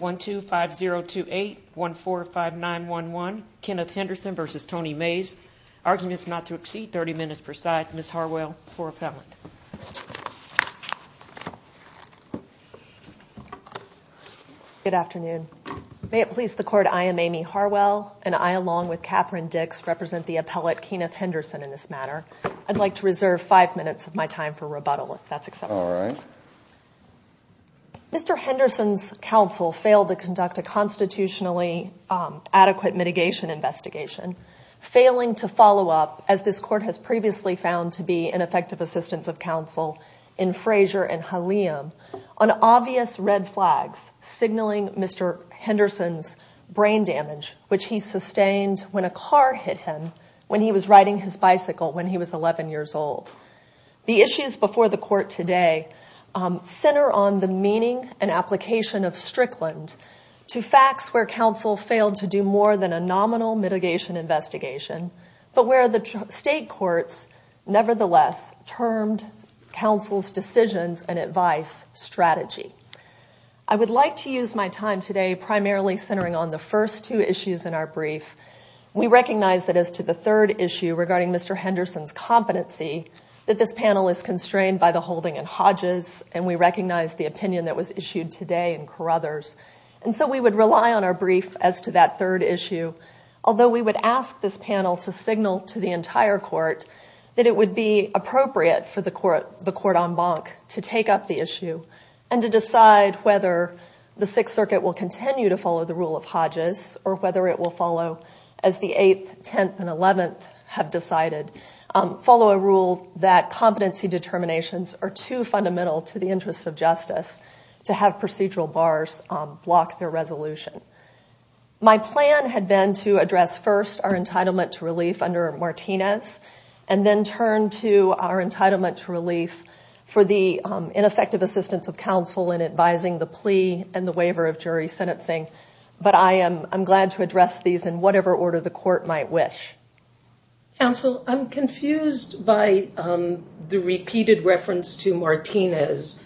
1-2-5-0-2-8, 1-4-5-9-1-1, Kenneth Henderson v. Tony Mays. Arguments not to exceed 30 minutes per side. Ms. Harwell for appellant. Good afternoon. May it please the Court, I am Amy Harwell, and I, along with Catherine Dix, represent the appellate, Kenneth Henderson, in this matter. I'd like to reserve five minutes of my time for rebuttal, if that's acceptable. All right. Mr. Henderson's counsel failed to conduct a constitutionally adequate mitigation investigation, failing to follow up, as this Court has previously found to be an effective assistance of counsel in Frazier and Halliam, on obvious red flags signaling Mr. Henderson's brain damage, which he sustained when a car hit him when he was riding his bicycle when he was 11 years old. The issues before the Court today center on the meaning and application of Strickland, to facts where counsel failed to do more than a nominal mitigation investigation, but where the state courts nevertheless termed counsel's decisions and advice strategy. I would like to use my time today primarily centering on the first two issues in our brief. We recognize that as to the third issue regarding Mr. Henderson's competency, that this panel is constrained by the holding in Hodges, and we recognize the opinion that was issued today in Carruthers. And so we would rely on our brief as to that third issue, although we would ask this panel to signal to the entire Court that it would be appropriate for the Court en banc to take up the issue and to decide whether the Sixth Circuit will continue to follow the rule of Hodges, or whether it will follow as the 8th, 10th, and 11th have decided, follow a rule that competency determinations are too fundamental to the interest of justice to have procedural bars block their resolution. My plan had been to address first our entitlement to relief under Martinez, and then turn to our entitlement to relief for the ineffective assistance of counsel in advising the plea and the waiver of jury sentencing, but I am glad to address these in whatever order the Court might wish. Counsel, I'm confused by the repeated reference to Martinez.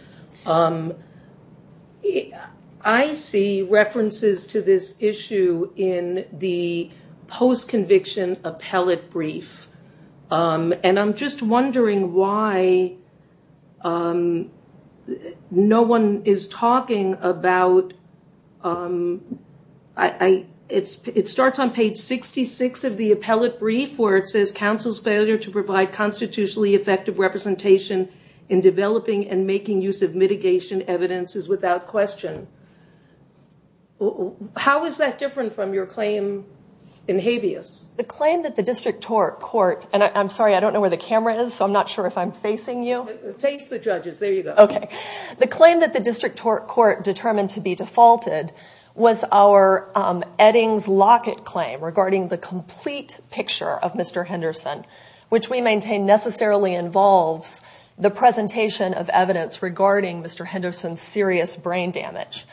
I see references to this issue in the post-conviction appellate brief, and I'm just wondering why no one is talking about... It starts on page 66 of the appellate brief where it says, counsel's failure to provide constitutionally effective representation in developing and making use of mitigation evidence is without question. How is that different from your claim in habeas? The claim that the District Court, and I'm sorry, I don't know where the camera is, so I'm not sure if I'm facing you. Face the judges. There you go. Okay. The claim that the District Court determined to be defaulted was our Eddings Lockett claim regarding the complete picture of Mr. Henderson, which we maintain necessarily involves the presentation of evidence regarding Mr. Henderson's serious brain damage.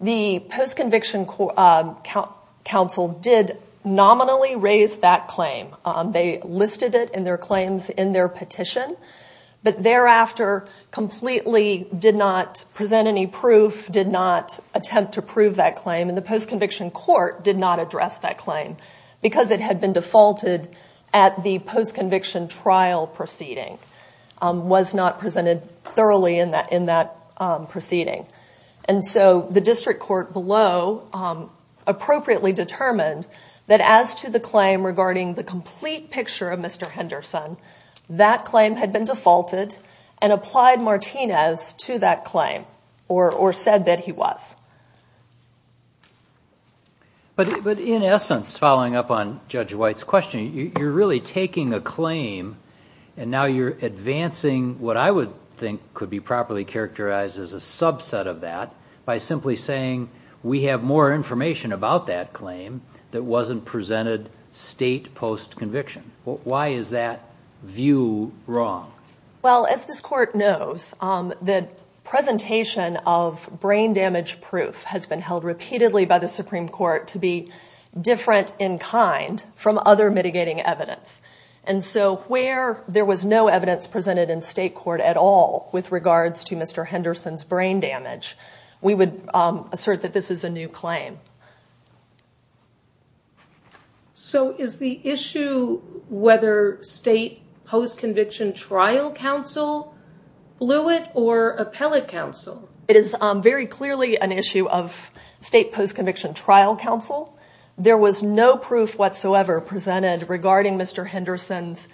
The post-conviction counsel did nominally raise that claim. They listed it in their claims in their petition, but thereafter completely did not present any proof, did not attempt to prove that claim, and the post-conviction court did not address that claim because it had been defaulted at the post-conviction trial proceeding, was not presented thoroughly in that proceeding. And so the District Court below appropriately determined that as to the claim regarding the complete picture of Mr. Henderson, that claim had been defaulted and applied Martinez to that claim or said that he was. But in essence, following up on Judge White's question, you're really taking a claim and now you're advancing what I would think could be properly characterized as a subset of that by simply saying we have more information about that claim that wasn't presented state post-conviction. Why is that view wrong? Well, as this court knows, the presentation of brain damage proof has been held repeatedly by the Supreme Court to be different in kind from other mitigating evidence. And so where there was no evidence presented in state court at all with regards to Mr. Henderson's brain damage, we would assert that this is a new claim. Okay. So is the issue whether state post-conviction trial counsel blew it or appellate counsel? It is very clearly an issue of state post-conviction trial counsel. There was no proof whatsoever presented regarding Mr. Henderson's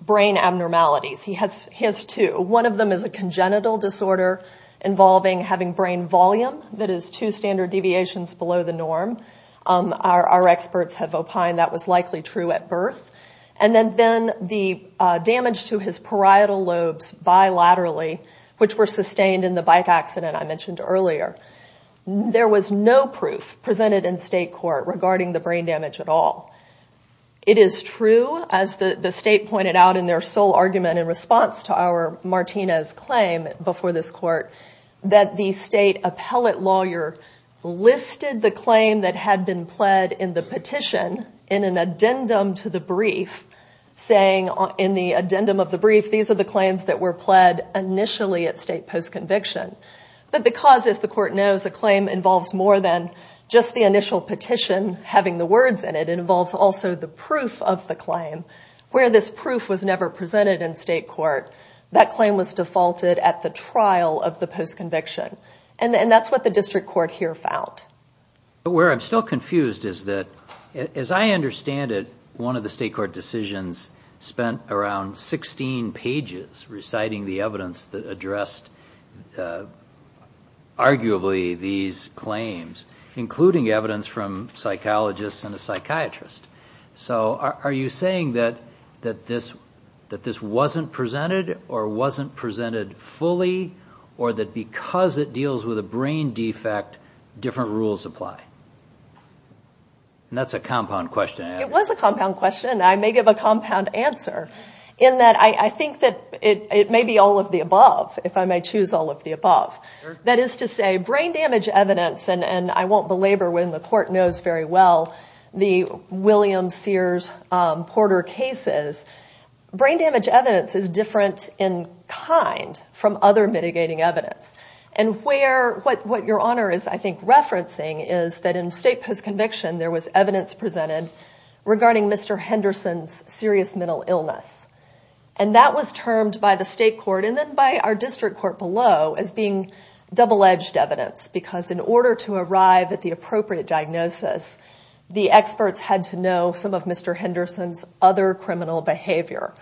brain abnormalities. He has two. One of them is a congenital disorder involving having brain volume that is two standard deviations below the norm. Our experts have opined that was likely true at birth. And then the damage to his parietal lobes bilaterally, which were sustained in the bike accident I mentioned earlier. There was no proof presented in state court regarding the brain damage at all. It is true, as the state pointed out in their sole argument in response to our Martinez claim before this court, that the state appellate lawyer listed the claim that had been pled in the petition in an addendum to the brief, saying in the addendum of the brief, these are the claims that were pled initially at state post-conviction. But because, as the court knows, a claim involves more than just the initial petition having the words in it, it involves also the proof of the claim. Where this proof was never presented in state court, that claim was defaulted at the trial of the post-conviction. And that's what the district court here found. But where I'm still confused is that, as I understand it, one of the state court decisions spent around 16 pages reciting the evidence that addressed arguably these claims, including evidence from psychologists and a psychiatrist. So are you saying that this wasn't presented, or wasn't presented fully, or that because it deals with a brain defect, different rules apply? And that's a compound question. It was a compound question, and I may give a compound answer, in that I think that it may be all of the above, if I may choose all of the above. That is to say, brain damage evidence, and I won't belabor when the court knows very well the William Sears Porter cases, brain damage evidence is different in kind from other mitigating evidence. And what your Honor is, I think, referencing is that in state post-conviction, there was evidence presented regarding Mr. Henderson's serious mental illness. And that was termed by the state court and then by our district court below as being double-edged evidence, because in order to arrive at the appropriate diagnosis, the experts had to know some of Mr. Henderson's other criminal behavior,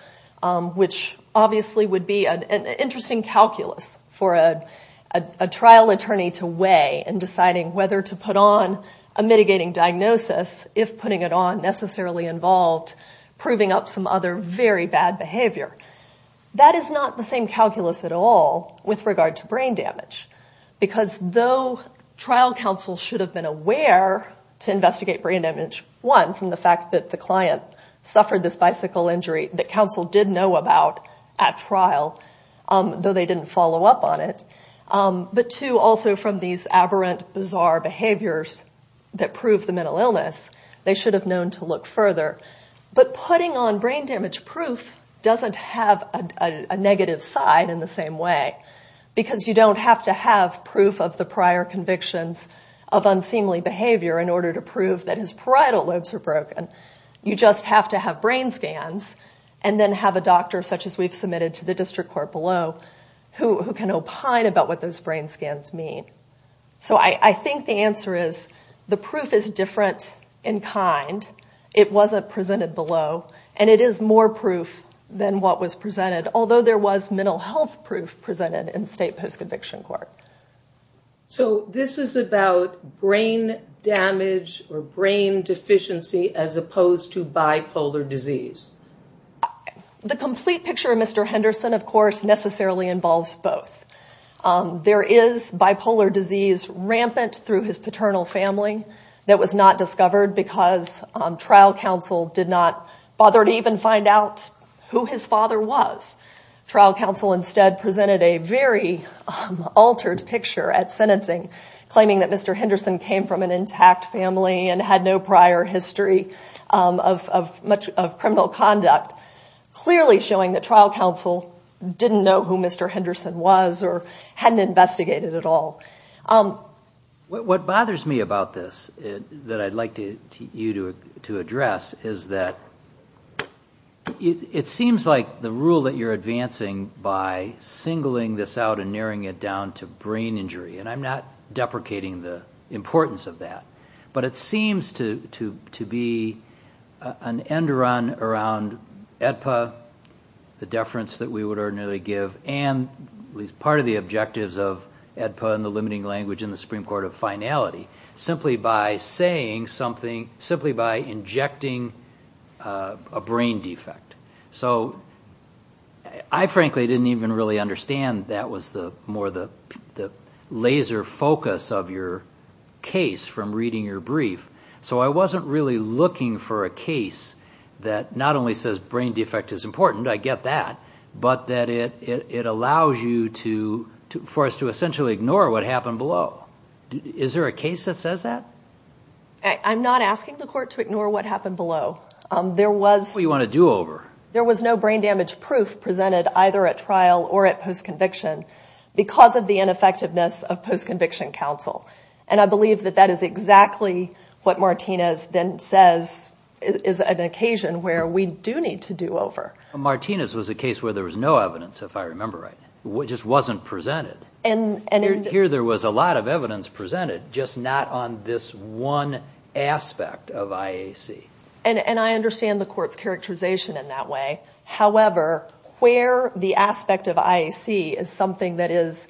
which obviously would be an interesting calculus for a trial attorney to weigh in deciding whether to put on a mitigating diagnosis, if putting it on necessarily involved, proving up some other very bad behavior. That is not the same calculus at all with regard to brain damage, because though trial counsel should have been aware to investigate brain damage, one, from the fact that the client suffered this bicycle injury that counsel did know about at trial, though they didn't follow up on it, but two, also from these aberrant, bizarre behaviors that prove the mental illness, they should have known to look further. But putting on brain damage proof doesn't have a negative side in the same way, because you don't have to have proof of the prior convictions of unseemly behavior in order to prove that his parietal lobes are broken. You just have to have brain scans and then have a doctor, such as we've submitted to the district court below, who can opine about what those brain scans mean. So I think the answer is the proof is different in kind. It wasn't presented below, and it is more proof than what was presented, although there was mental health proof presented in state post-conviction court. So this is about brain damage or brain deficiency as opposed to bipolar disease? The complete picture of Mr. Henderson, of course, necessarily involves both. There is bipolar disease rampant through his paternal family that was not discovered because trial counsel did not bother to even find out who his father was. Trial counsel instead presented a very altered picture at sentencing, claiming that Mr. Henderson came from an intact family and had no prior history of criminal conduct, clearly showing that trial counsel didn't know who Mr. Henderson was or hadn't investigated at all. What bothers me about this that I'd like you to address is that it seems like the rule that you're advancing by singling this out and narrowing it down to brain injury, and I'm not deprecating the importance of that, but it seems to be an end-run around AEDPA, the deference that we would ordinarily give, and at least part of the objectives of AEDPA and the limiting language in the Supreme Court of Finality, simply by saying something, simply by injecting a brain defect. So I frankly didn't even really understand that was more the laser focus of your case from reading your brief, so I wasn't really looking for a case that not only says brain defect is important, I get that, but that it allows you for us to essentially ignore what happened below. Is there a case that says that? I'm not asking the court to ignore what happened below. There was no brain damage proof presented either at trial or at post-conviction, because of the ineffectiveness of post-conviction counsel. And I believe that that is exactly what Martinez then says is an occasion where we do need to do over. Martinez was a case where there was no evidence, if I remember right. It just wasn't presented. Here there was a lot of evidence presented, just not on this one aspect of IAC. And I understand the court's characterization in that way. However, where the aspect of IAC is something that has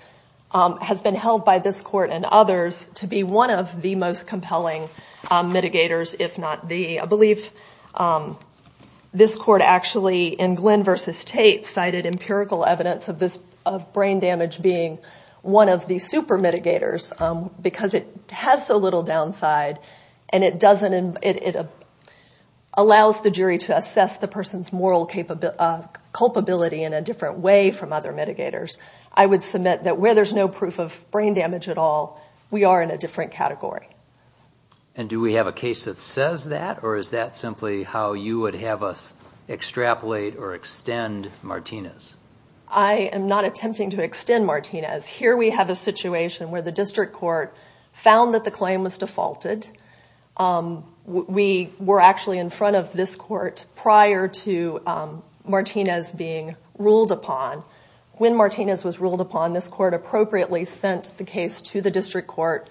been held by this court and others to be one of the most compelling mitigators, if not the. I believe this court actually, in Glenn v. Tate, cited empirical evidence of brain damage being one of the super mitigators, because it has so little downside, and it allows the jury to assess the person's moral capabilities. And I would submit that where there's no proof of brain damage at all, we are in a different category. And do we have a case that says that, or is that simply how you would have us extrapolate or extend Martinez? I am not attempting to extend Martinez. Here we have a situation where the district court found that the claim was defaulted. We were actually in front of this court prior to Martinez being ruled upon. When Martinez was ruled upon, this court appropriately sent the case to the district court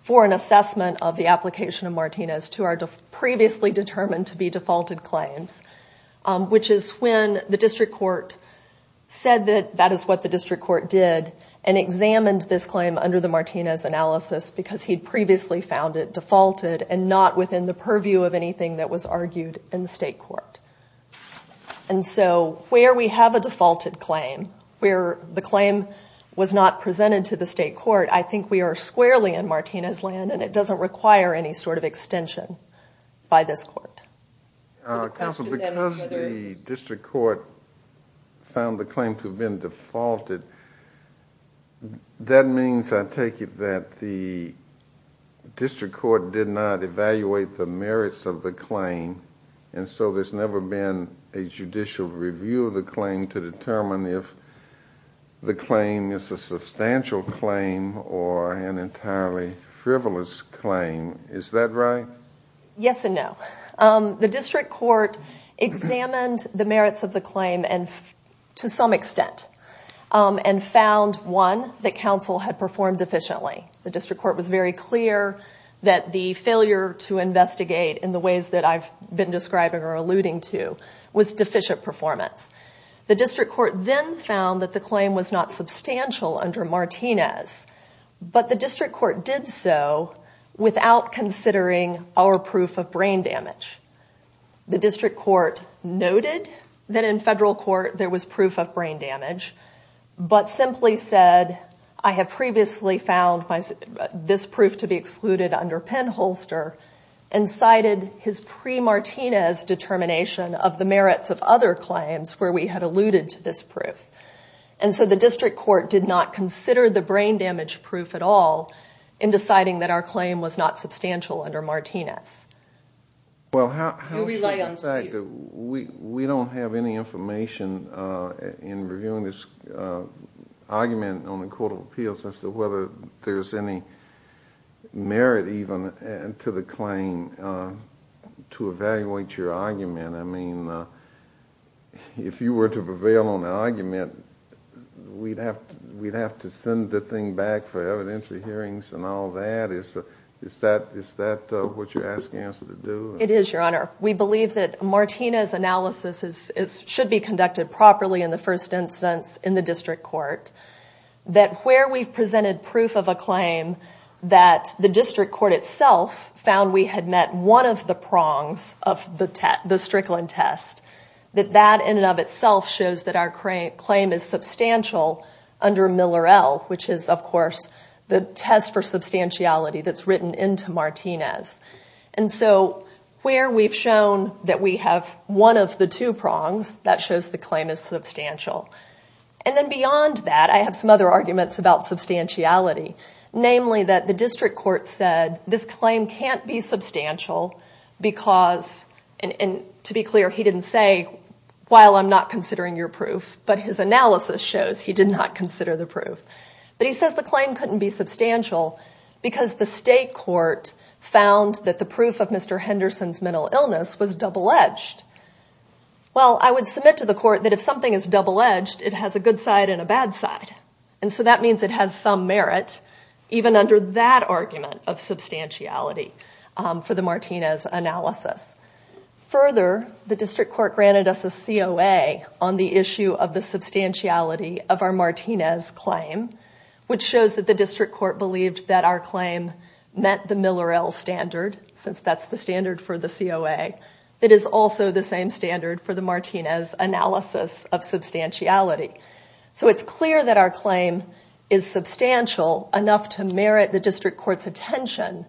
for an assessment of the application of Martinez to our previously determined to be defaulted claims, which is when the district court said that that is what the district court did and examined this claim under the Martinez analysis, because he'd previously found it defaulted and not within the purview of anything that was argued in the state court. And so where we have a defaulted claim, where the claim was not presented to the state court, I think we are squarely in Martinez land, and it doesn't require any sort of extension by this court. Counsel, because the district court found the claim to have been defaulted, that means, I take it, that the district court did not evaluate the merits of the claim, and so there's never been a judicial review of the claim to determine if the claim is a substantial claim or an entirely frivolous claim. Is that right? Yes and no. The district court examined the merits of the claim to some extent and found, one, that counsel had performed efficiently. The district court was very clear that the failure to investigate in the ways that I've been describing or alluding to was deficient performance. The district court then found that the claim was not substantial under Martinez, but the district court did so without considering our proof of brain damage. The district court noted that in federal court there was proof of brain damage, but simply said, I have previously found this proof to be excluded under Penholster and cited his pre-Martinez determination of the merits of other claims where we had alluded to this proof. And so the district court did not consider the brain damage proof at all in deciding that our claim was not substantial under Martinez. We don't have any information in reviewing this argument on the Court of Appeals as to whether there's any merit even to the claim to evaluate your argument. I mean, if you were to prevail on the argument, we'd have to send the thing back for evidentiary hearings and all that. Is that what you're asking us to do? It is, Your Honor. We believe that Martinez analysis should be conducted properly in the first instance in the district court, that where we've presented proof of a claim that the district court itself found we had met one of the prongs of the Strickland test, that that in and of itself shows that our claim is substantial under Miller-El, which is, of course, the test for substantiality that's written into Martinez. And so where we've shown that we have one of the two prongs, that shows the claim is substantial. And then beyond that, I have some other arguments about substantiality, namely that the district court said this claim can't be substantial because, and to be clear, he didn't say, while I'm not considering your proof, but his analysis shows he did not consider the proof. But he says the claim couldn't be substantial because the state court found that the proof of Mr. Henderson's mental illness was double-edged. Well, I would submit to the court that if something is double-edged, it has a good side and a bad side. And so that means it has some merit even under that argument of substantiality for the Martinez analysis. Further, the district court granted us a COA on the issue of the substantiality of our Martinez claim, which shows that the district court believed that our claim met the Miller-El standard, since that's the standard for the COA. That is also the same standard for the Martinez analysis of substantiality. So it's clear that our claim is substantial enough to merit the district court's attention.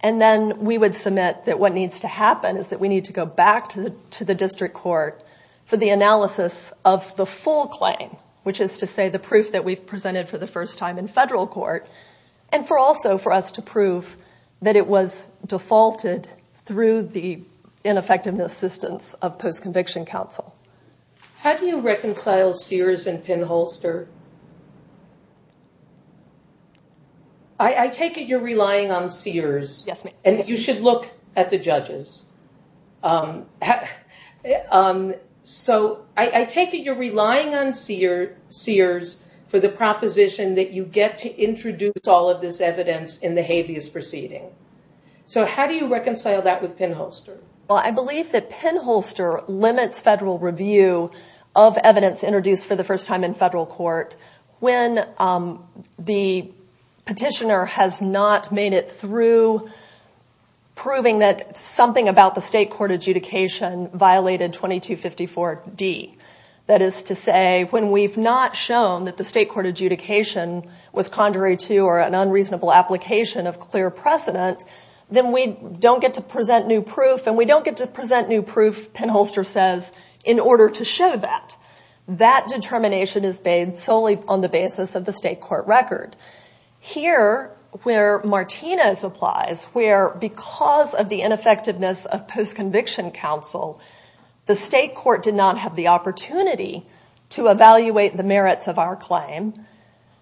And then we would submit that what needs to happen is that we need to go back to the district court for the analysis of the full claim, which is to say the proof that we've presented for the first time in federal court, and also for us to prove that it was defaulted through the ineffectiveness assistance of post-conviction counsel. How do you reconcile Sears and Penholster? I take it you're relying on Sears, and you should look at the judges. So I take it you're relying on Sears for the proposition that you get to introduce all of this evidence in the habeas proceeding. So how do you reconcile that with Penholster? Well, I believe that Penholster limits federal review of evidence introduced for the first time in federal court when the petitioner has not made it through, proving that something about the state court adjudication violated 2254D. That is to say, when we've not shown that the state court adjudication was contrary to or an unreasonable application of clear precedent, then we don't get to present new proof, and we don't get to present new proof, Penholster says, in order to show that. That determination is made solely on the basis of the state court record. Here, where Martinez applies, where because of the ineffectiveness of post-conviction counsel, the state court did not have the opportunity to evaluate the merits of our claim,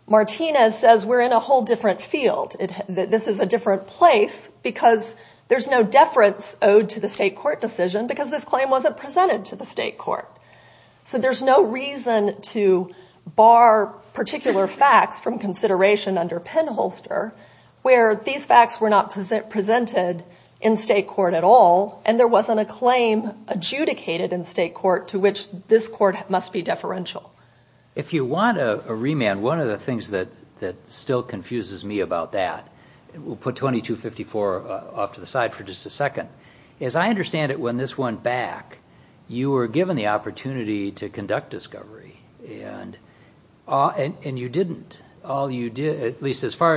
Martinez says we're in a whole different field. This is a different place because there's no deference owed to the state court decision because this claim wasn't presented to the state court. So there's no reason to bar particular facts from consideration under Penholster, where these facts were not presented in state court at all, and there wasn't a claim adjudicated in state court to which this court must be deferential. If you want a remand, one of the things that still confuses me about that, we'll put 2254 off to the side for just a second, is I understand that when this went back, you were given the opportunity to conduct discovery, and you didn't. As far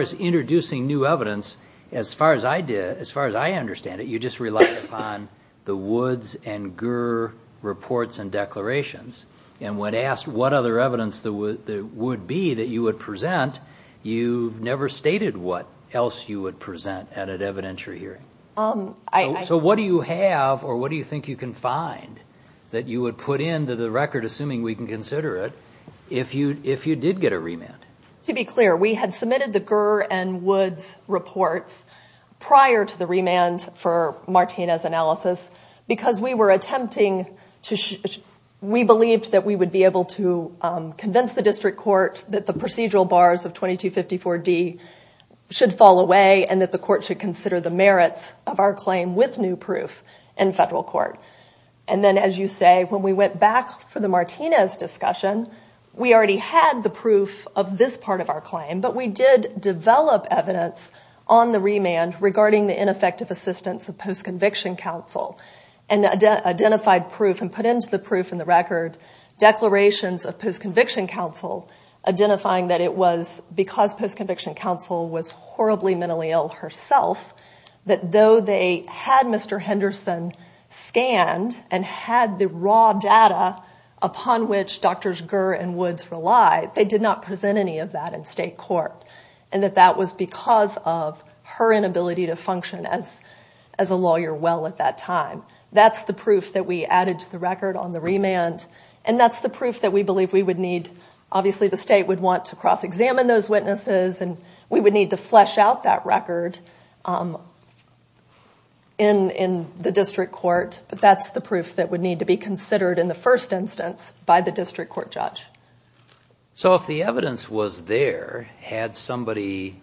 as introducing new evidence, as far as I understand it, you just relied upon the Woods and Gur reports and declarations, and when asked what other evidence there would be that you would present, you never stated what else you would present at an evidentiary hearing. So what do you have or what do you think you can find that you would put into the record, assuming we can consider it, if you did get a remand? To be clear, we had submitted the Gur and Woods reports prior to the remand for Martinez analysis because we believed that we would be able to convince the district court that the procedural bars of 2254D should fall away and that the court should consider the merits of our claim with new proof in federal court. And then, as you say, when we went back for the Martinez discussion, we already had the proof of this part of our claim, but we did develop evidence on the remand regarding the ineffective assistance of post-conviction counsel and identified proof and put into the proof in the record declarations of post-conviction counsel identifying that it was because post-conviction counsel was horribly mentally ill herself that though they had Mr. Henderson scanned and had the raw data upon which Drs. Gur and Woods relied, they did not present any of that in state court and that that was because of her inability to function as a lawyer well at that time. That's the proof that we added to the record on the remand and that's the proof that we believe we would need. Obviously, the state would want to cross-examine those witnesses and we would need to flesh out that record in the district court, but that's the proof that would need to be considered in the first instance by the district court judge. So if the evidence was there, had somebody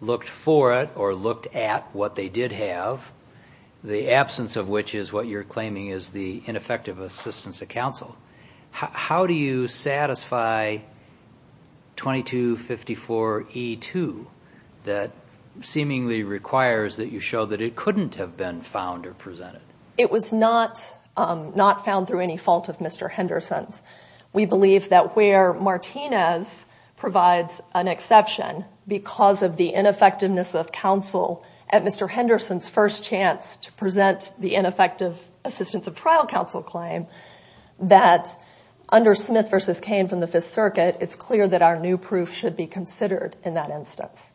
looked for it or looked at what they did have, the absence of which is what you're claiming is the ineffective assistance of counsel, how do you satisfy 2254E2 that seemingly requires that you show that it couldn't have been found or presented? It was not found through any fault of Mr. Henderson's. We believe that where Martinez provides an exception because of the ineffectiveness of counsel at Mr. Henderson's first chance to present the ineffective assistance of trial counsel claim, that under Smith v. Cain from the Fifth Circuit it's clear that our new proof should be considered in that instance.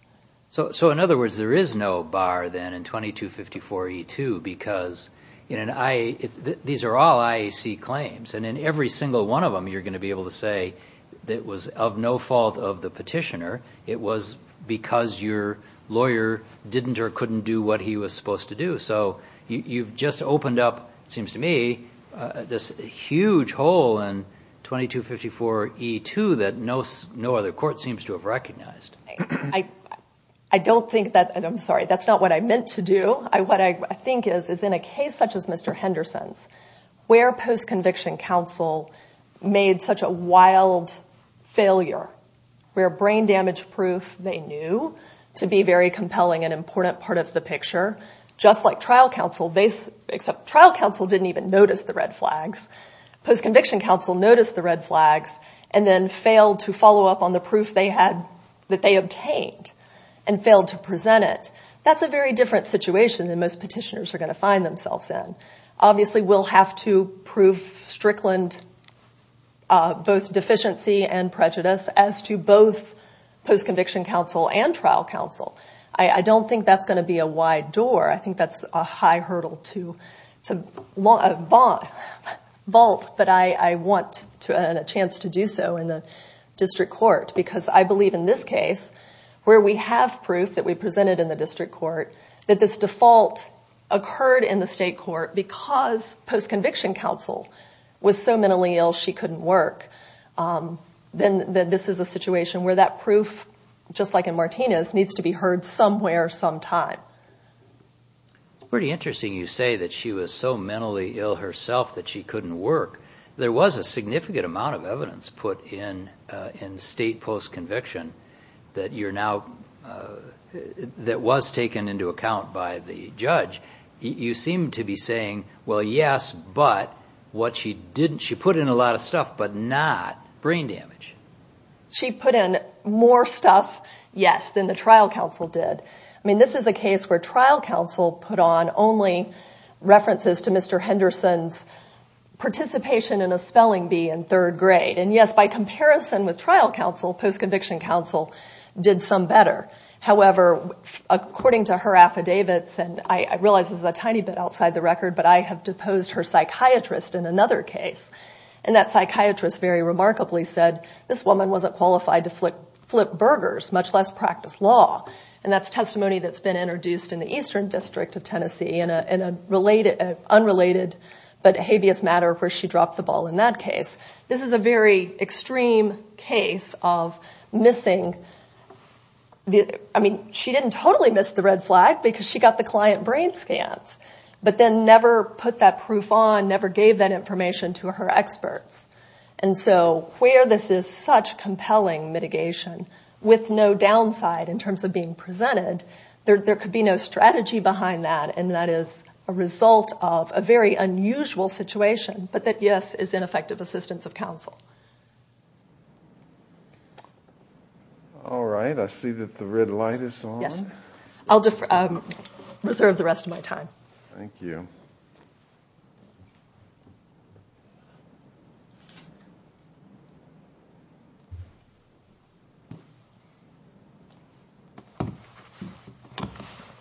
So in other words, there is no bar then in 2254E2 because these are all IAC claims and in every single one of them you're going to be able to say it was of no fault of the petitioner. It was because your lawyer didn't or couldn't do what he was supposed to do. So you've just opened up, it seems to me, this huge hole in 2254E2 that no other court seems to have recognized. I'm sorry, that's not what I meant to do. What I think is in a case such as Mr. Henderson's, where post-conviction counsel made such a wild failure, where brain damage proof they knew to be very compelling and important part of the picture, just like trial counsel, except trial counsel didn't even notice the red flags. Post-conviction counsel noticed the red flags and then failed to follow up on the proof that they obtained and failed to present it. That's a very different situation than most petitioners are going to find themselves in. Obviously, we'll have to prove Strickland both deficiency and prejudice as to both post-conviction counsel and trial counsel. I don't think that's going to be a wide door. I think that's a high hurdle to vault, but I want a chance to do so in the district court because I believe in this case, where we have proof that we presented in the district court, that this default occurred in the state court because post-conviction counsel was so mentally ill she couldn't work, then this is a situation where that proof, just like in Martinez, needs to be heard somewhere sometime. It's pretty interesting you say that she was so mentally ill herself that she couldn't work. There was a significant amount of evidence put in state post-conviction that was taken into account by the judge. You seem to be saying, well, yes, but she put in a lot of stuff, but not brain damage. She put in more stuff, yes, than the trial counsel did. This is a case where trial counsel put on only references to Mr. Henderson's participation in a spelling bee in third grade. And yes, by comparison with trial counsel, post-conviction counsel did some better. However, according to her affidavits, and I realize this is a tiny bit outside the record, but I have deposed her psychiatrist in another case, and that psychiatrist very remarkably said, this woman wasn't qualified to flip burgers, much less practice law. And that's testimony that's been introduced in the Eastern District of Tennessee, in an unrelated but habeas matter where she dropped the ball in that case. This is a very extreme case of missing, I mean, she didn't totally miss the red flag because she got the client brain scans, but then never put that proof on, never gave that information to her experts. And so where this is such compelling mitigation with no downside in terms of being presented, there could be no strategy behind that, and that is a result of a very unusual situation, but that, yes, is ineffective assistance of counsel. All right, I see that the red light is on. I'll reserve the rest of my time.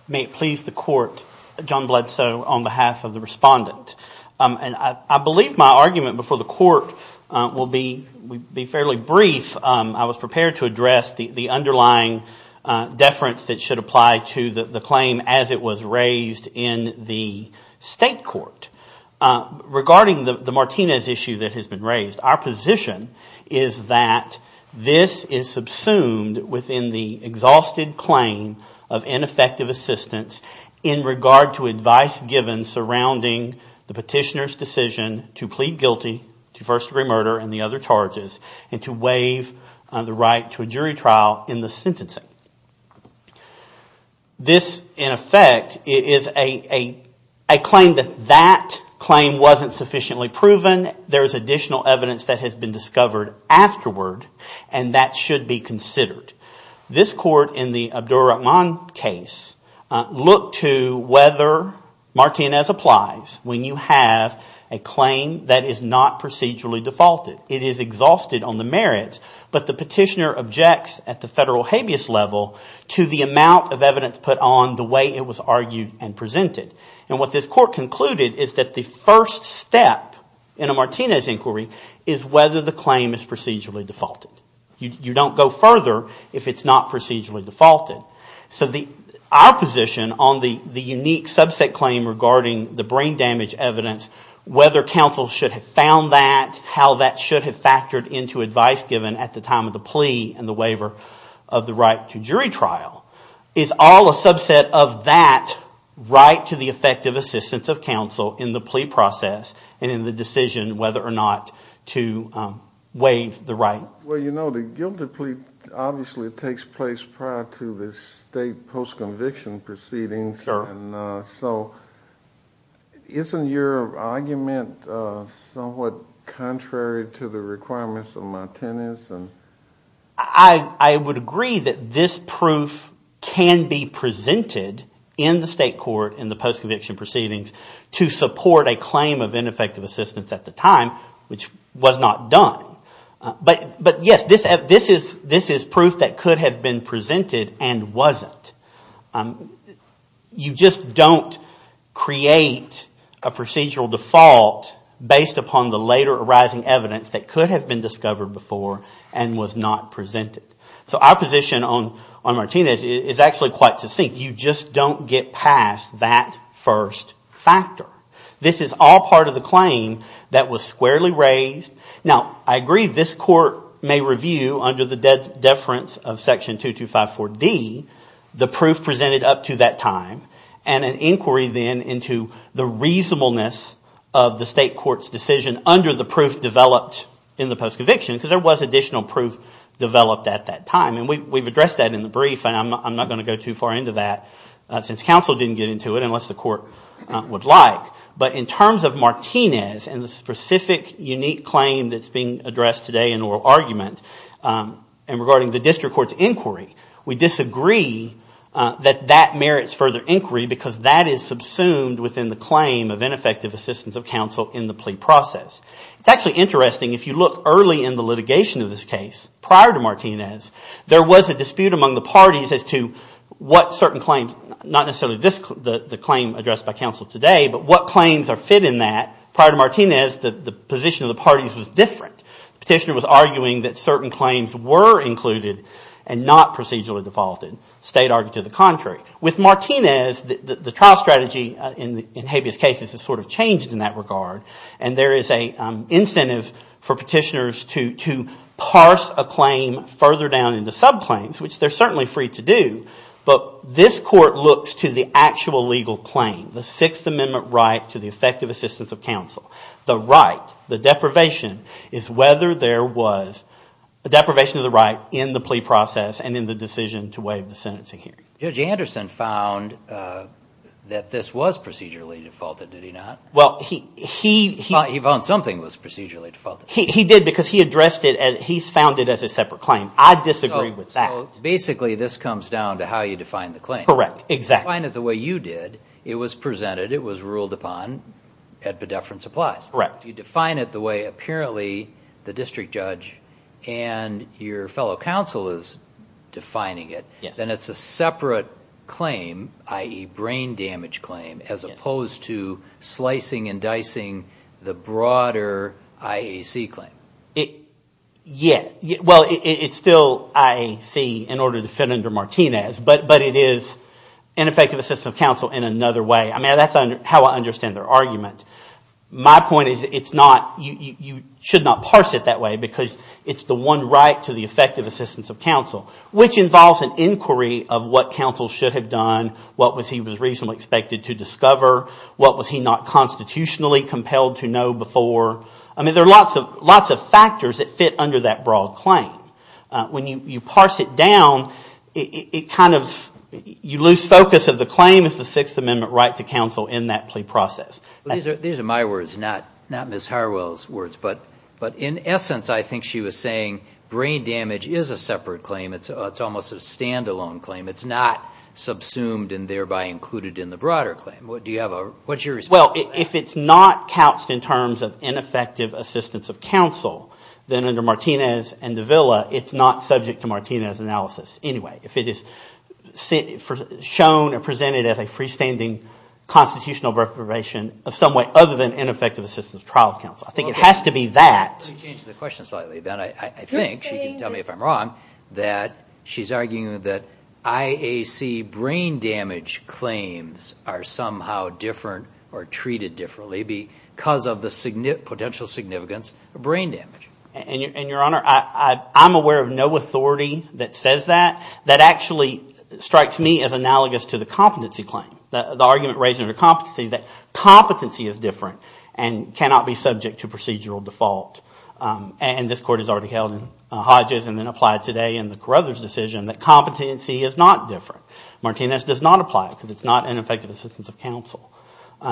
May it please the court, John Bledsoe on behalf of the respondent. I believe my argument before the court will be fairly brief. I was prepared to address the underlying deference that should apply to the claim as it was raised in the state court. Regarding the Martinez issue that has been raised, our position is that this is subsumed within the exhausted claim of ineffective assistance in regard to advice given surrounding the petitioner's decision to plead guilty to first degree murder and the other charges and to waive the right to a jury trial in the sentencing. This, in effect, is a claim that that claim wasn't sufficiently proven. There is additional evidence that has been discovered afterward, and that should be considered. This court in the Abdur Rahman case looked to whether Martinez applied when you have a claim that is not procedurally defaulted. It is exhausted on the merits, but the petitioner objects at the federal habeas level to the amount of evidence put on the way it was argued and presented. And what this court concluded is that the first step in a Martinez inquiry is whether the claim is procedurally defaulted. You don't go further if it's not procedurally defaulted. So our position on the unique subset claim regarding the brain damage evidence, whether counsel should have found that, how that should have factored into advice given at the time of the plea and the waiver of the right to jury trial, is all a subset of that right to the effective assistance of counsel in the plea process and in the decision whether or not to waive the right. Well, you know the guilty plea obviously takes place prior to the state post-conviction proceedings. So isn't your argument somewhat contrary to the requirements of Martinez? I would agree that this proof can be presented in the state court in the post-conviction proceedings to support a claim of ineffective assistance at the time, which was not done. But yes, this is proof that could have been presented and wasn't. You just don't create a procedural default based upon the later arising evidence that could have been discovered before and was not presented. So our position on Martinez is actually quite succinct. You just don't get past that first factor. This is all part of the claim that was squarely raised. Now, I agree this court may review under the deference of Section 2254D the proof presented up to that time and an inquiry then into the reasonableness of the state court's decision under the proof developed in the post-conviction because there was additional proof developed at that time. And we've addressed that in the brief and I'm not going to go too far into that since counsel didn't get into it unless the court would like. But in terms of Martinez and the specific unique claim that's being addressed today in oral argument and regarding the district court's inquiry, we disagree that that merits further inquiry because that is subsumed within the claim of ineffective assistance of counsel in the plea process. It's actually interesting if you look early in the litigation of this case prior to Martinez, there was a dispute among the parties as to what certain claims, not necessarily the claim addressed by counsel today, but what claims are fit in that. Prior to Martinez, the position of the parties was different. The petitioner was arguing that certain claims were included and not procedurally defaulted. The state argued to the contrary. With Martinez, the trial strategy in habeas cases has sort of changed in that regard and there is an incentive for petitioners to parse a claim further down into subclaims, which they're certainly free to do, but this court looks to the actual legal claim, the Sixth Amendment right to the effective assistance of counsel. The right, the deprivation is whether there was a deprivation of the right in the plea process and in the decision to waive the sentencing hearing. Judge Anderson found that this was procedurally defaulted, did he not? He found something was procedurally defaulted. He did because he addressed it as he found it as a separate claim. I disagree with that. Basically, this comes down to how you define the claim. You define it the way you did. It was presented. It was ruled upon. You define it the way, apparently, the district judge and your fellow counsel is defining it. Then it's a separate claim, i.e. brain damage claim, as opposed to slicing and dicing the broader IAC claim. Yeah, well, it's still IAC in order to fit under Martinez, but it is an effective assistance of counsel in another way. I mean, that's how I understand their argument. My point is it's not – you should not parse it that way because it's the one right to the effective assistance of counsel, which involves an inquiry of what counsel should have done, what he was reasonably expected to discover, what was he not constitutionally compelled to know before. I mean, there are lots of factors that fit under that broad claim. When you parse it down, it kind of – you lose focus of the claim as the Sixth Amendment right to counsel in that plea process. These are my words, not Ms. Harwell's words. But in essence, I think she was saying brain damage is a separate claim. It's almost a standalone claim. It's not subsumed and thereby included in the broader claim. What's your response to that? Well, if it's not couched in terms of ineffective assistance of counsel, then under Martinez and Davila, it's not subject to Martinez analysis anyway. If it is shown or presented as a freestanding constitutional reprobation of some way other than ineffective assistance of trial of counsel. I think it has to be that. Let me change the question slightly, Ben. I think she can tell me if I'm wrong that she's arguing that IAC brain damage claims are somehow different or treated differently because of the potential significance of brain damage. And, Your Honor, I'm aware of no authority that says that. That actually strikes me as analogous to the competency claim, the argument raised under competency that competency is different and cannot be subject to brain damage. And this Court has already held in Hodges and then applied today in the Carothers decision that competency is not different. Martinez does not apply it because it's not ineffective assistance of counsel.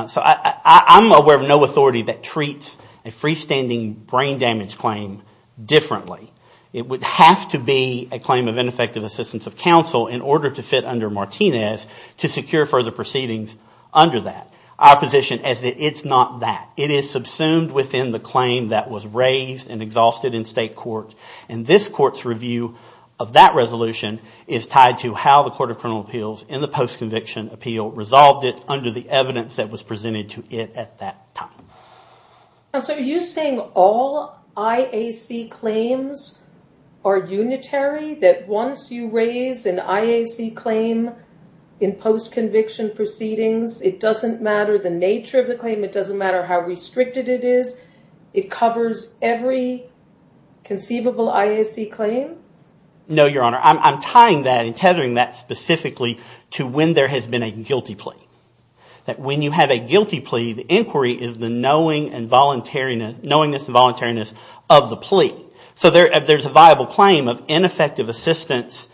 So I'm aware of no authority that treats a freestanding brain damage claim differently. It would have to be a claim of ineffective assistance of counsel in order to fit under Martinez to secure further proceedings under that. Our position is that it's not that. It is subsumed within the claim that was raised and exhausted in state court. And this Court's review of that resolution is tied to how the Court of Criminal Appeals in the post-conviction appeal resolved it under the evidence that was presented to it at that time. Counsel, are you saying all IAC claims are unitary? That once you raise an IAC claim in post-conviction proceedings, it doesn't matter? The nature of the claim, it doesn't matter how restricted it is? It covers every conceivable IAC claim? No, Your Honor. I'm tying that and tethering that specifically to when there has been a guilty plea. That when you have a guilty plea, the inquiry is the knowingness and voluntariness of the plea. So there's a viable claim of ineffective assistance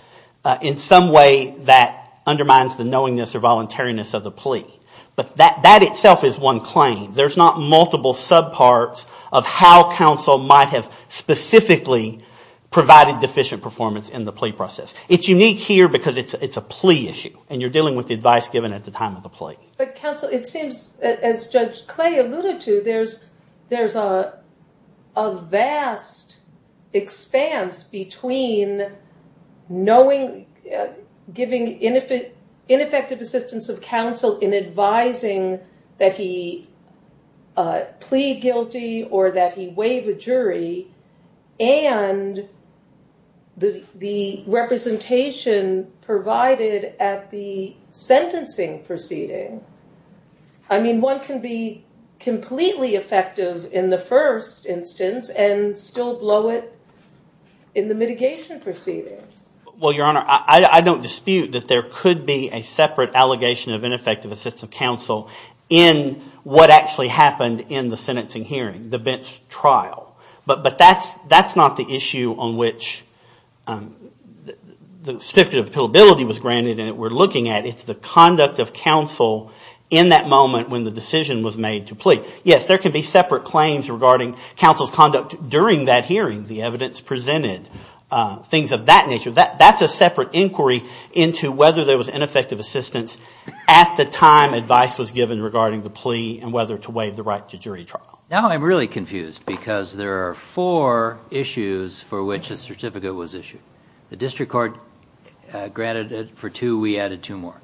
in some way that undermines the knowingness or voluntariness of the plea. That itself is one claim. There's not multiple subparts of how counsel might have specifically provided deficient performance in the plea process. It's unique here because it's a plea issue, and you're dealing with the advice given at the time of the plea. But counsel, it seems, as Judge Clay alluded to, there's a vast expanse between knowing, giving ineffective assistance of counsel in advising the plaintiff, and then that he plead guilty or that he waive a jury, and the representation provided at the sentencing proceeding. I mean, one can be completely effective in the first instance and still blow it in the mitigation proceeding. Well, Your Honor, I don't dispute that there could be a separate allegation of ineffective assistance of counsel in what actually happened in the sentencing hearing, the bench trial. But that's not the issue on which the spiffing of pillability was granted and we're looking at. It's the conduct of counsel in that moment when the decision was made to plea. Yes, there can be separate claims regarding counsel's conduct during that hearing, the evidence presented, things of that nature. That's a separate inquiry into whether there was ineffective assistance at the time advice was given regarding the plea and whether to waive the right to jury trial. Now I'm really confused because there are four issues for which a certificate was issued. The district court granted it for two. We added two more.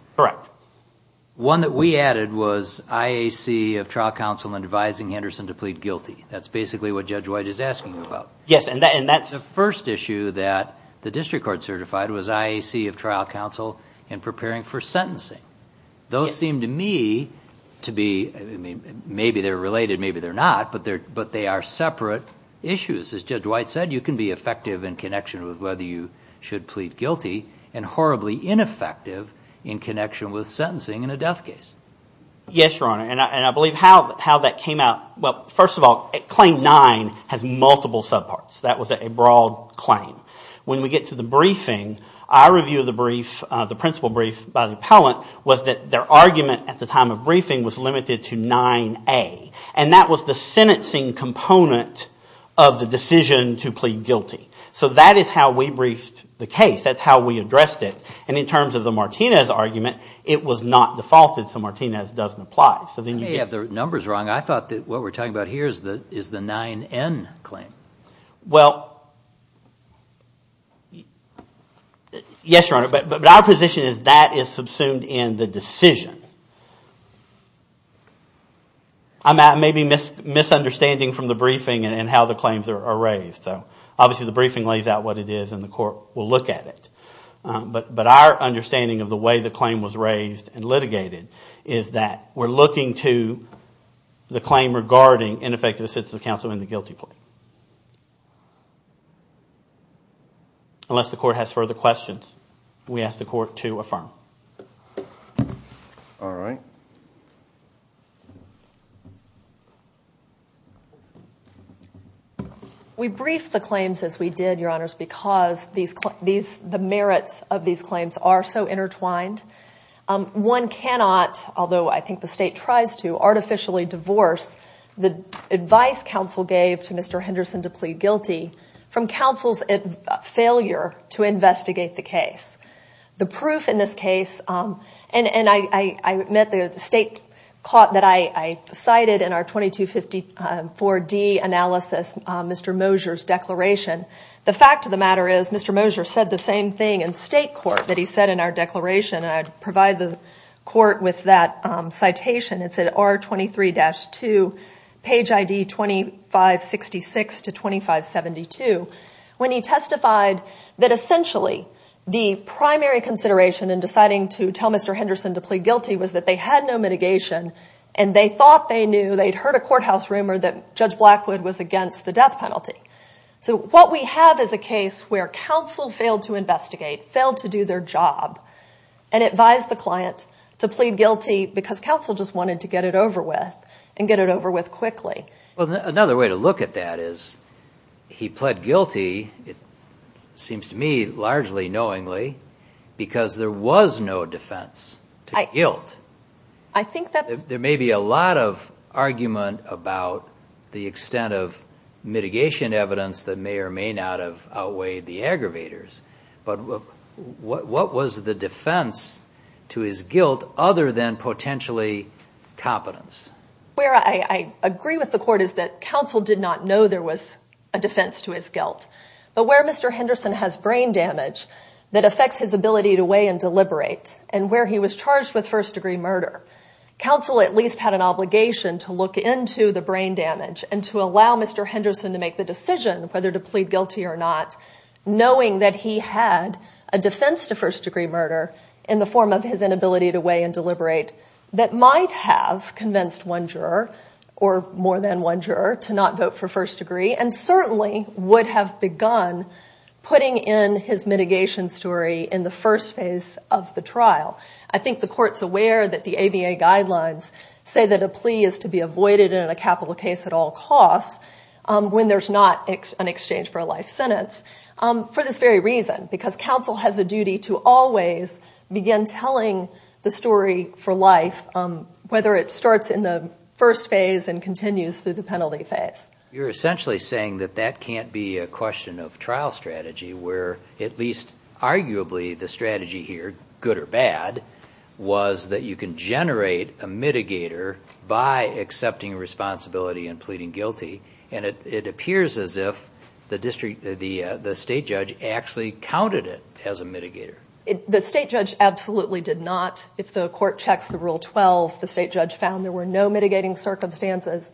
One that we added was IAC of trial counsel advising Henderson to plead guilty. That's basically what Judge White is asking about. The first issue that the district court certified was IAC of trial counsel in preparing for sentencing. Those seem to me to be – maybe they're related, maybe they're not, but they are separate issues. As Judge White said, you can be effective in connection with whether you should plead guilty and horribly ineffective in connection with sentencing in a death case. Yes, Your Honor, and I believe how that came out – well, first of all, Claim 9 has multiple subparts. That was a broad claim. When we get to the briefing, our review of the principle brief by the appellant was that their argument at the time of briefing was limited to 9A. And that was the sentencing component of the decision to plead guilty. So that is how we briefed the case. That's how we addressed it. And in terms of the Martinez argument, it was not defaulted, so Martinez doesn't apply. You may have the numbers wrong. I thought that what we're talking about here is the 9N claim. Well, yes, Your Honor, but our position is that is subsumed in the decision. I may be misunderstanding from the briefing and how the claims are raised. Obviously the briefing lays out what it is and the court will look at it. But our understanding of the way the claim was raised and litigated is that we're looking to the claim regarding ineffective assistance of counsel in the guilty plea. Unless the court has further questions, we ask the court to affirm. All right. We briefed the claims as we did, Your Honors, because the merits of these claims are so intertwined. One cannot, although I think the state tries to, artificially divorce the advice counsel gave to Mr. Henderson to plead guilty from counsel's failure to investigate the case. The proof in this case, and I admit the state caught that I cited in our 2254D analysis Mr. Mosher's declaration. The fact of the matter is Mr. Mosher said the same thing in state court that he said in our declaration. And I provide the court with that citation. It's at R23-2, page ID 2566 to 2572. When he testified that essentially the primary consideration in deciding to tell Mr. Henderson to plead guilty was that they had no mitigation and they thought they knew, they'd heard a courthouse rumor that Judge Blackwood was against the death penalty. So what we have is a case where counsel failed to investigate, failed to do their job, and advised the client to plead guilty because counsel just wanted to get it over with and get it over with quickly. Another way to look at that is he pled guilty, it seems to me largely knowingly, because there was no defense to guilt. There may be a lot of argument about the extent of mitigation evidence that may or may not have outweighed the aggravators, but what was the defense to his guilt other than potentially competence? Where I agree with the court is that counsel did not know there was a defense to his guilt. But where Mr. Henderson has brain damage that affects his ability to weigh and deliberate and where he was charged with first-degree murder, counsel at least had an obligation to look into the brain damage and to allow Mr. Henderson to make the decision whether to plead guilty or not, knowing that he had a defense to first-degree murder in the form of his inability to weigh and deliberate that might have convinced one juror or more than one juror to not vote for first degree and certainly would have begun putting in his mitigation story in the first phase of the trial. I think the court's aware that the ABA guidelines say that a plea is to be avoided in a capital case at all costs when there's not an exchange for a life sentence for this very reason, because counsel has a duty to always begin telling the story for life, whether it starts in the first phase and continues through the penalty phase. You're essentially saying that that can't be a question of trial strategy, where at least arguably the strategy here, good or bad, was that you can generate a mitigator by accepting responsibility and pleading guilty, and it appears as if the state judge actually counted it as a mitigator. The state judge absolutely did not. If the court checks the Rule 12, the state judge found there were no mitigating circumstances.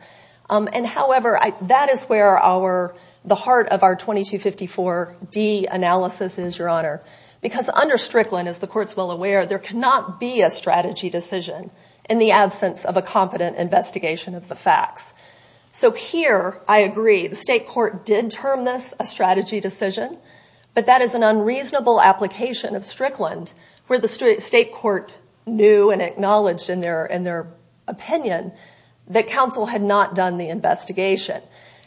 And however, that is where the heart of our 2254D analysis is, Your Honor, because under Strickland, as the court's well aware, there cannot be a strategy decision in the absence of a competent investigation of the facts. So here, I agree, the state court did term this a strategy decision, but that is an unreasonable application of Strickland, where the state court knew and acknowledged in their opinion that counsel had not done the investigation.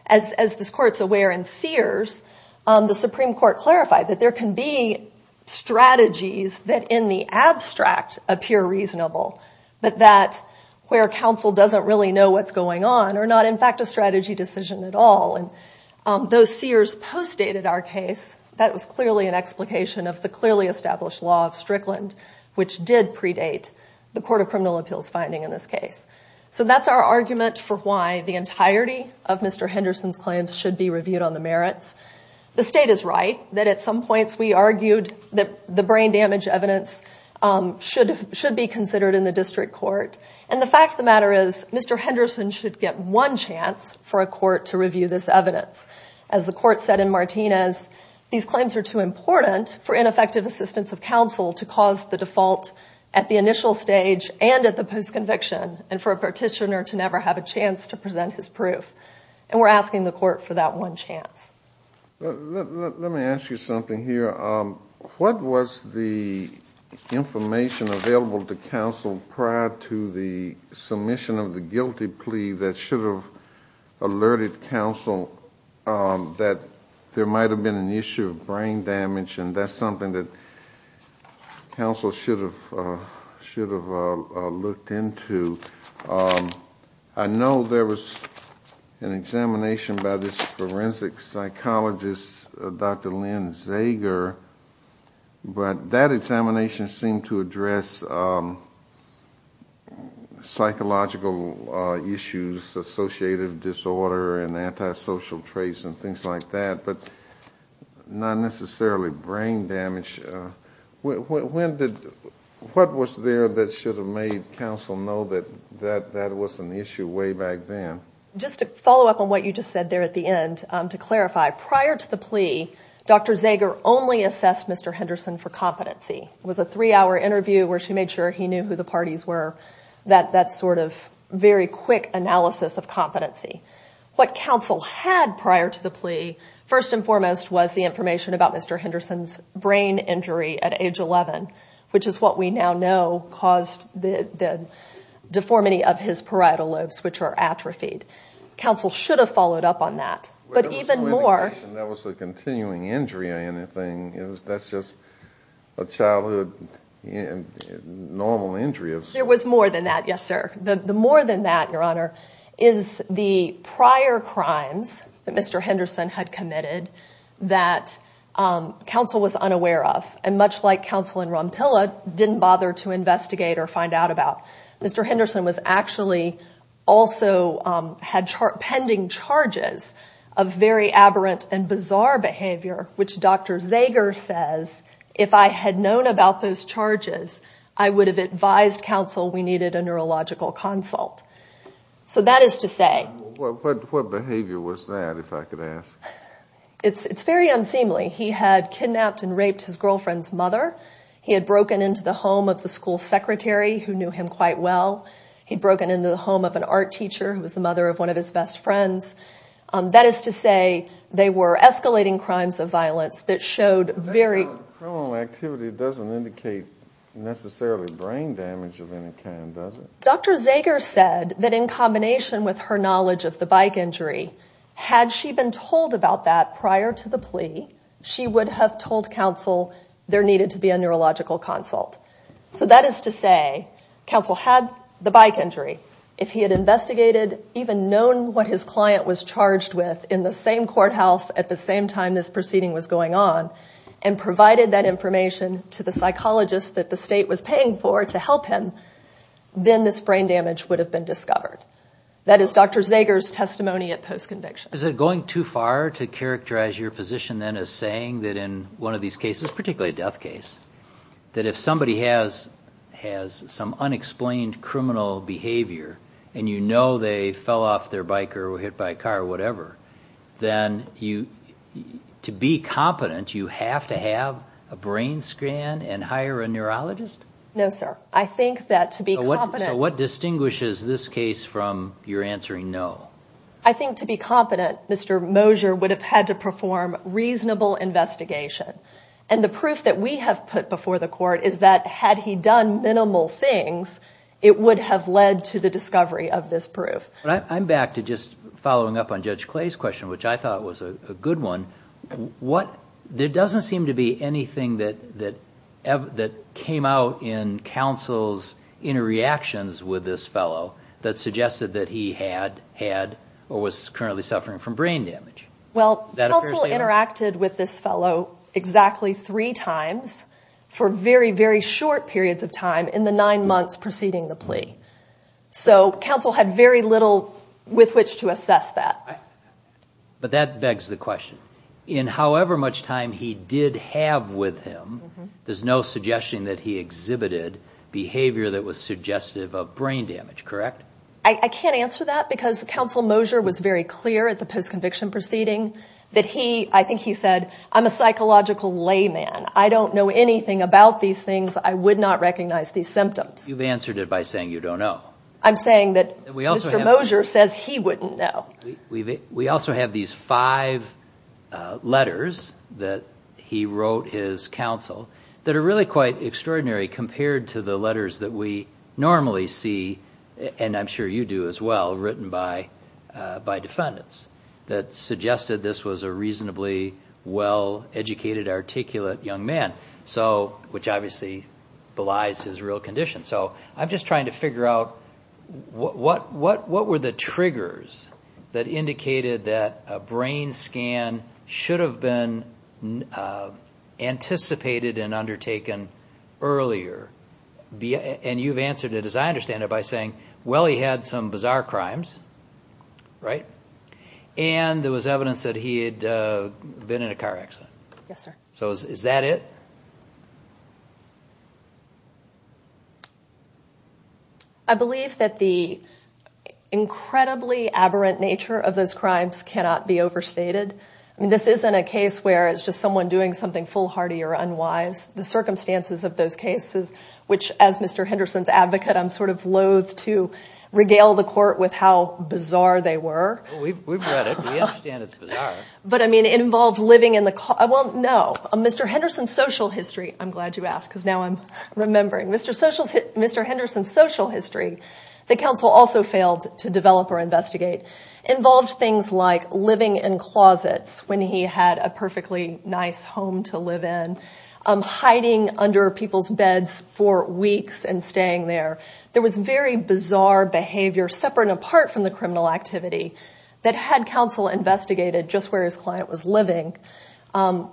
As the court's aware in Sears, the Supreme Court clarified that there can be strategies that in the abstract appear reasonable, but that where counsel doesn't really know what's going on are not in fact a strategy decision at all. And though Sears postdated our case, that was clearly an explication of the clearly established law of Strickland, which did predate the Court of Criminal Appeals finding in this case. So that's our argument for why the entirety of Mr. Henderson's claims should be reviewed on the merits. The state is right that at some points we argued that the brain damage evidence should be considered in the district court, and the fact of the matter is, Mr. Henderson should get one chance for a court to review this evidence. As the court said in Martinez, these claims are too important for ineffective assistance of counsel to cause the default at the initial stage and at the post-conviction, and for a petitioner to never have a chance to present his proof. And we're asking the court for that one chance. Let me ask you something here. What was the information available to counsel prior to the submission of the guilty plea that should have alerted counsel that there might have been an issue of brain damage, and that's something that counsel should have looked into? I know there was an examination by this forensic psychologist, Dr. Lynn Zager, but that examination seemed to address psychological issues, associative disorder and antisocial traits and things like that, but not necessarily brain damage. What was there that should have made counsel know that that was an issue way back then? Just to follow up on what you just said there at the end, to clarify, prior to the plea, Dr. Zager only assessed Mr. Henderson for competency. It was a three-hour interview where she made sure he knew who the parties were, that sort of very quick analysis of competency. What counsel had prior to the plea, first and foremost, was the information about Mr. Henderson's brain injury at age 11, which is what we now know caused the deformity of his parietal lobes, which are atrophied. Counsel should have followed up on that. There was no indication that was a continuing injury or anything. That's just a childhood normal injury. There was more than that, yes, sir. The more than that, Your Honor, is the prior crimes that Mr. Henderson had committed that counsel was unaware of, and much like counsel in Rompilla didn't bother to investigate or find out about, Mr. Henderson was actually also had pending charges of very aberrant and bizarre behavior, which Dr. Zager says, if I had known about those charges, I would have advised counsel we needed a neurological consult. So that is to say. What behavior was that, if I could ask? It's very unseemly. He had kidnapped and raped his girlfriend's mother. He had broken into the home of the school secretary who knew him quite well. He had broken into the home of an art teacher who was the mother of one of his best friends. That is to say they were escalating crimes of violence that showed very. Criminal activity doesn't indicate necessarily brain damage of any kind, does it? Dr. Zager said that in combination with her knowledge of the bike injury, had she been told about that prior to the plea, she would have told counsel there needed to be a neurological consult. So that is to say counsel had the bike injury. If he had investigated, even known what his client was charged with in the same courthouse at the same time this proceeding was going on, provided that information to the psychologist that the state was paying for to help him, then this brain damage would have been discovered. That is Dr. Zager's testimony at post-conviction. Is it going too far to characterize your position then as saying that in one of these cases, particularly a death case, that if somebody has some unexplained criminal behavior and you know they fell off their bike or were hit by a car or whatever, then to be competent, you have to have a brain scan and hire a neurologist? No, sir. I think that to be competent... So what distinguishes this case from your answering no? I think to be competent, Mr. Moser would have had to perform reasonable investigation. And the proof that we have put before the court is that had he done minimal things, it would have led to the discovery of this proof. I'm back to just following up on Judge Clay's question, which I thought was a good one. There doesn't seem to be anything that came out in counsel's interreactions with this fellow that suggested that he had or was currently suffering from brain damage. Well, counsel interacted with this fellow exactly three times for very, very short periods of time in the nine months preceding his death. So counsel had very little with which to assess that. But that begs the question. In however much time he did have with him, there's no suggestion that he exhibited behavior that was suggestive of brain damage, correct? I can't answer that because counsel Moser was very clear at the post-conviction proceeding that he, I think he said, I'm a psychological layman. I don't know anything about these things. I would not recognize these symptoms. You've answered it by saying you don't know. I'm saying that Mr. Moser says he wouldn't know. We also have these five letters that he wrote his counsel that are really quite extraordinary compared to the letters that we normally see, and I'm sure you do as well, written by defendants, that suggested this was a reasonably well-educated, articulate young man. Which obviously belies his real condition. So I'm just trying to figure out what were the triggers that indicated that a brain scan should have been anticipated and undertaken earlier? And you've answered it, as I understand it, by saying, well, he had some bizarre crimes, and there was evidence that he had been in a car accident. So is that it? I believe that the incredibly aberrant nature of those crimes cannot be overstated. I mean, this isn't a case where it's just someone doing something foolhardy or unwise. The circumstances of those cases, which, as Mr. Henderson's advocate, I'm sort of loath to regale the court with how bizarre they were. We've read it. We understand it's bizarre. But, I mean, it involved living in the car. Well, no. Mr. Henderson's social history, I'm glad you asked, because now I'm remembering. Mr. Henderson's social history, the counsel also failed to develop or investigate, involved things like living in closets when he had a perfectly nice home to live in, hiding under people's beds for weeks and staying there. There was very bizarre behavior, separate and apart from the criminal activity, that had counsel investigated just where his client was living,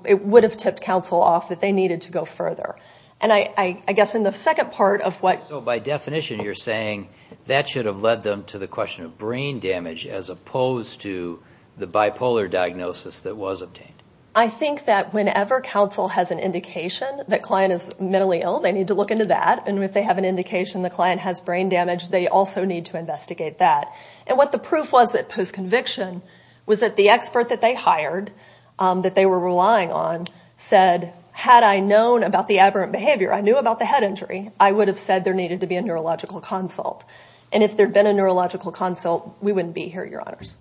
it would have tipped counsel off that they needed to go further. And I guess in the second part of what... So by definition, you're saying that should have led them to the question of brain damage as opposed to the bipolar diagnosis that was obtained. I think that whenever counsel has an indication that a client is mentally ill, they need to look into that. And if they have an indication the client has brain damage, they also need to investigate that. And what the proof was at post-conviction was that the expert that they hired, that they were relying on, said, had I known about the aberrant behavior, I knew about the head injury, I would have said there needed to be a neurological consult. And if there'd been a neurological consult, we wouldn't be here, Your Honors.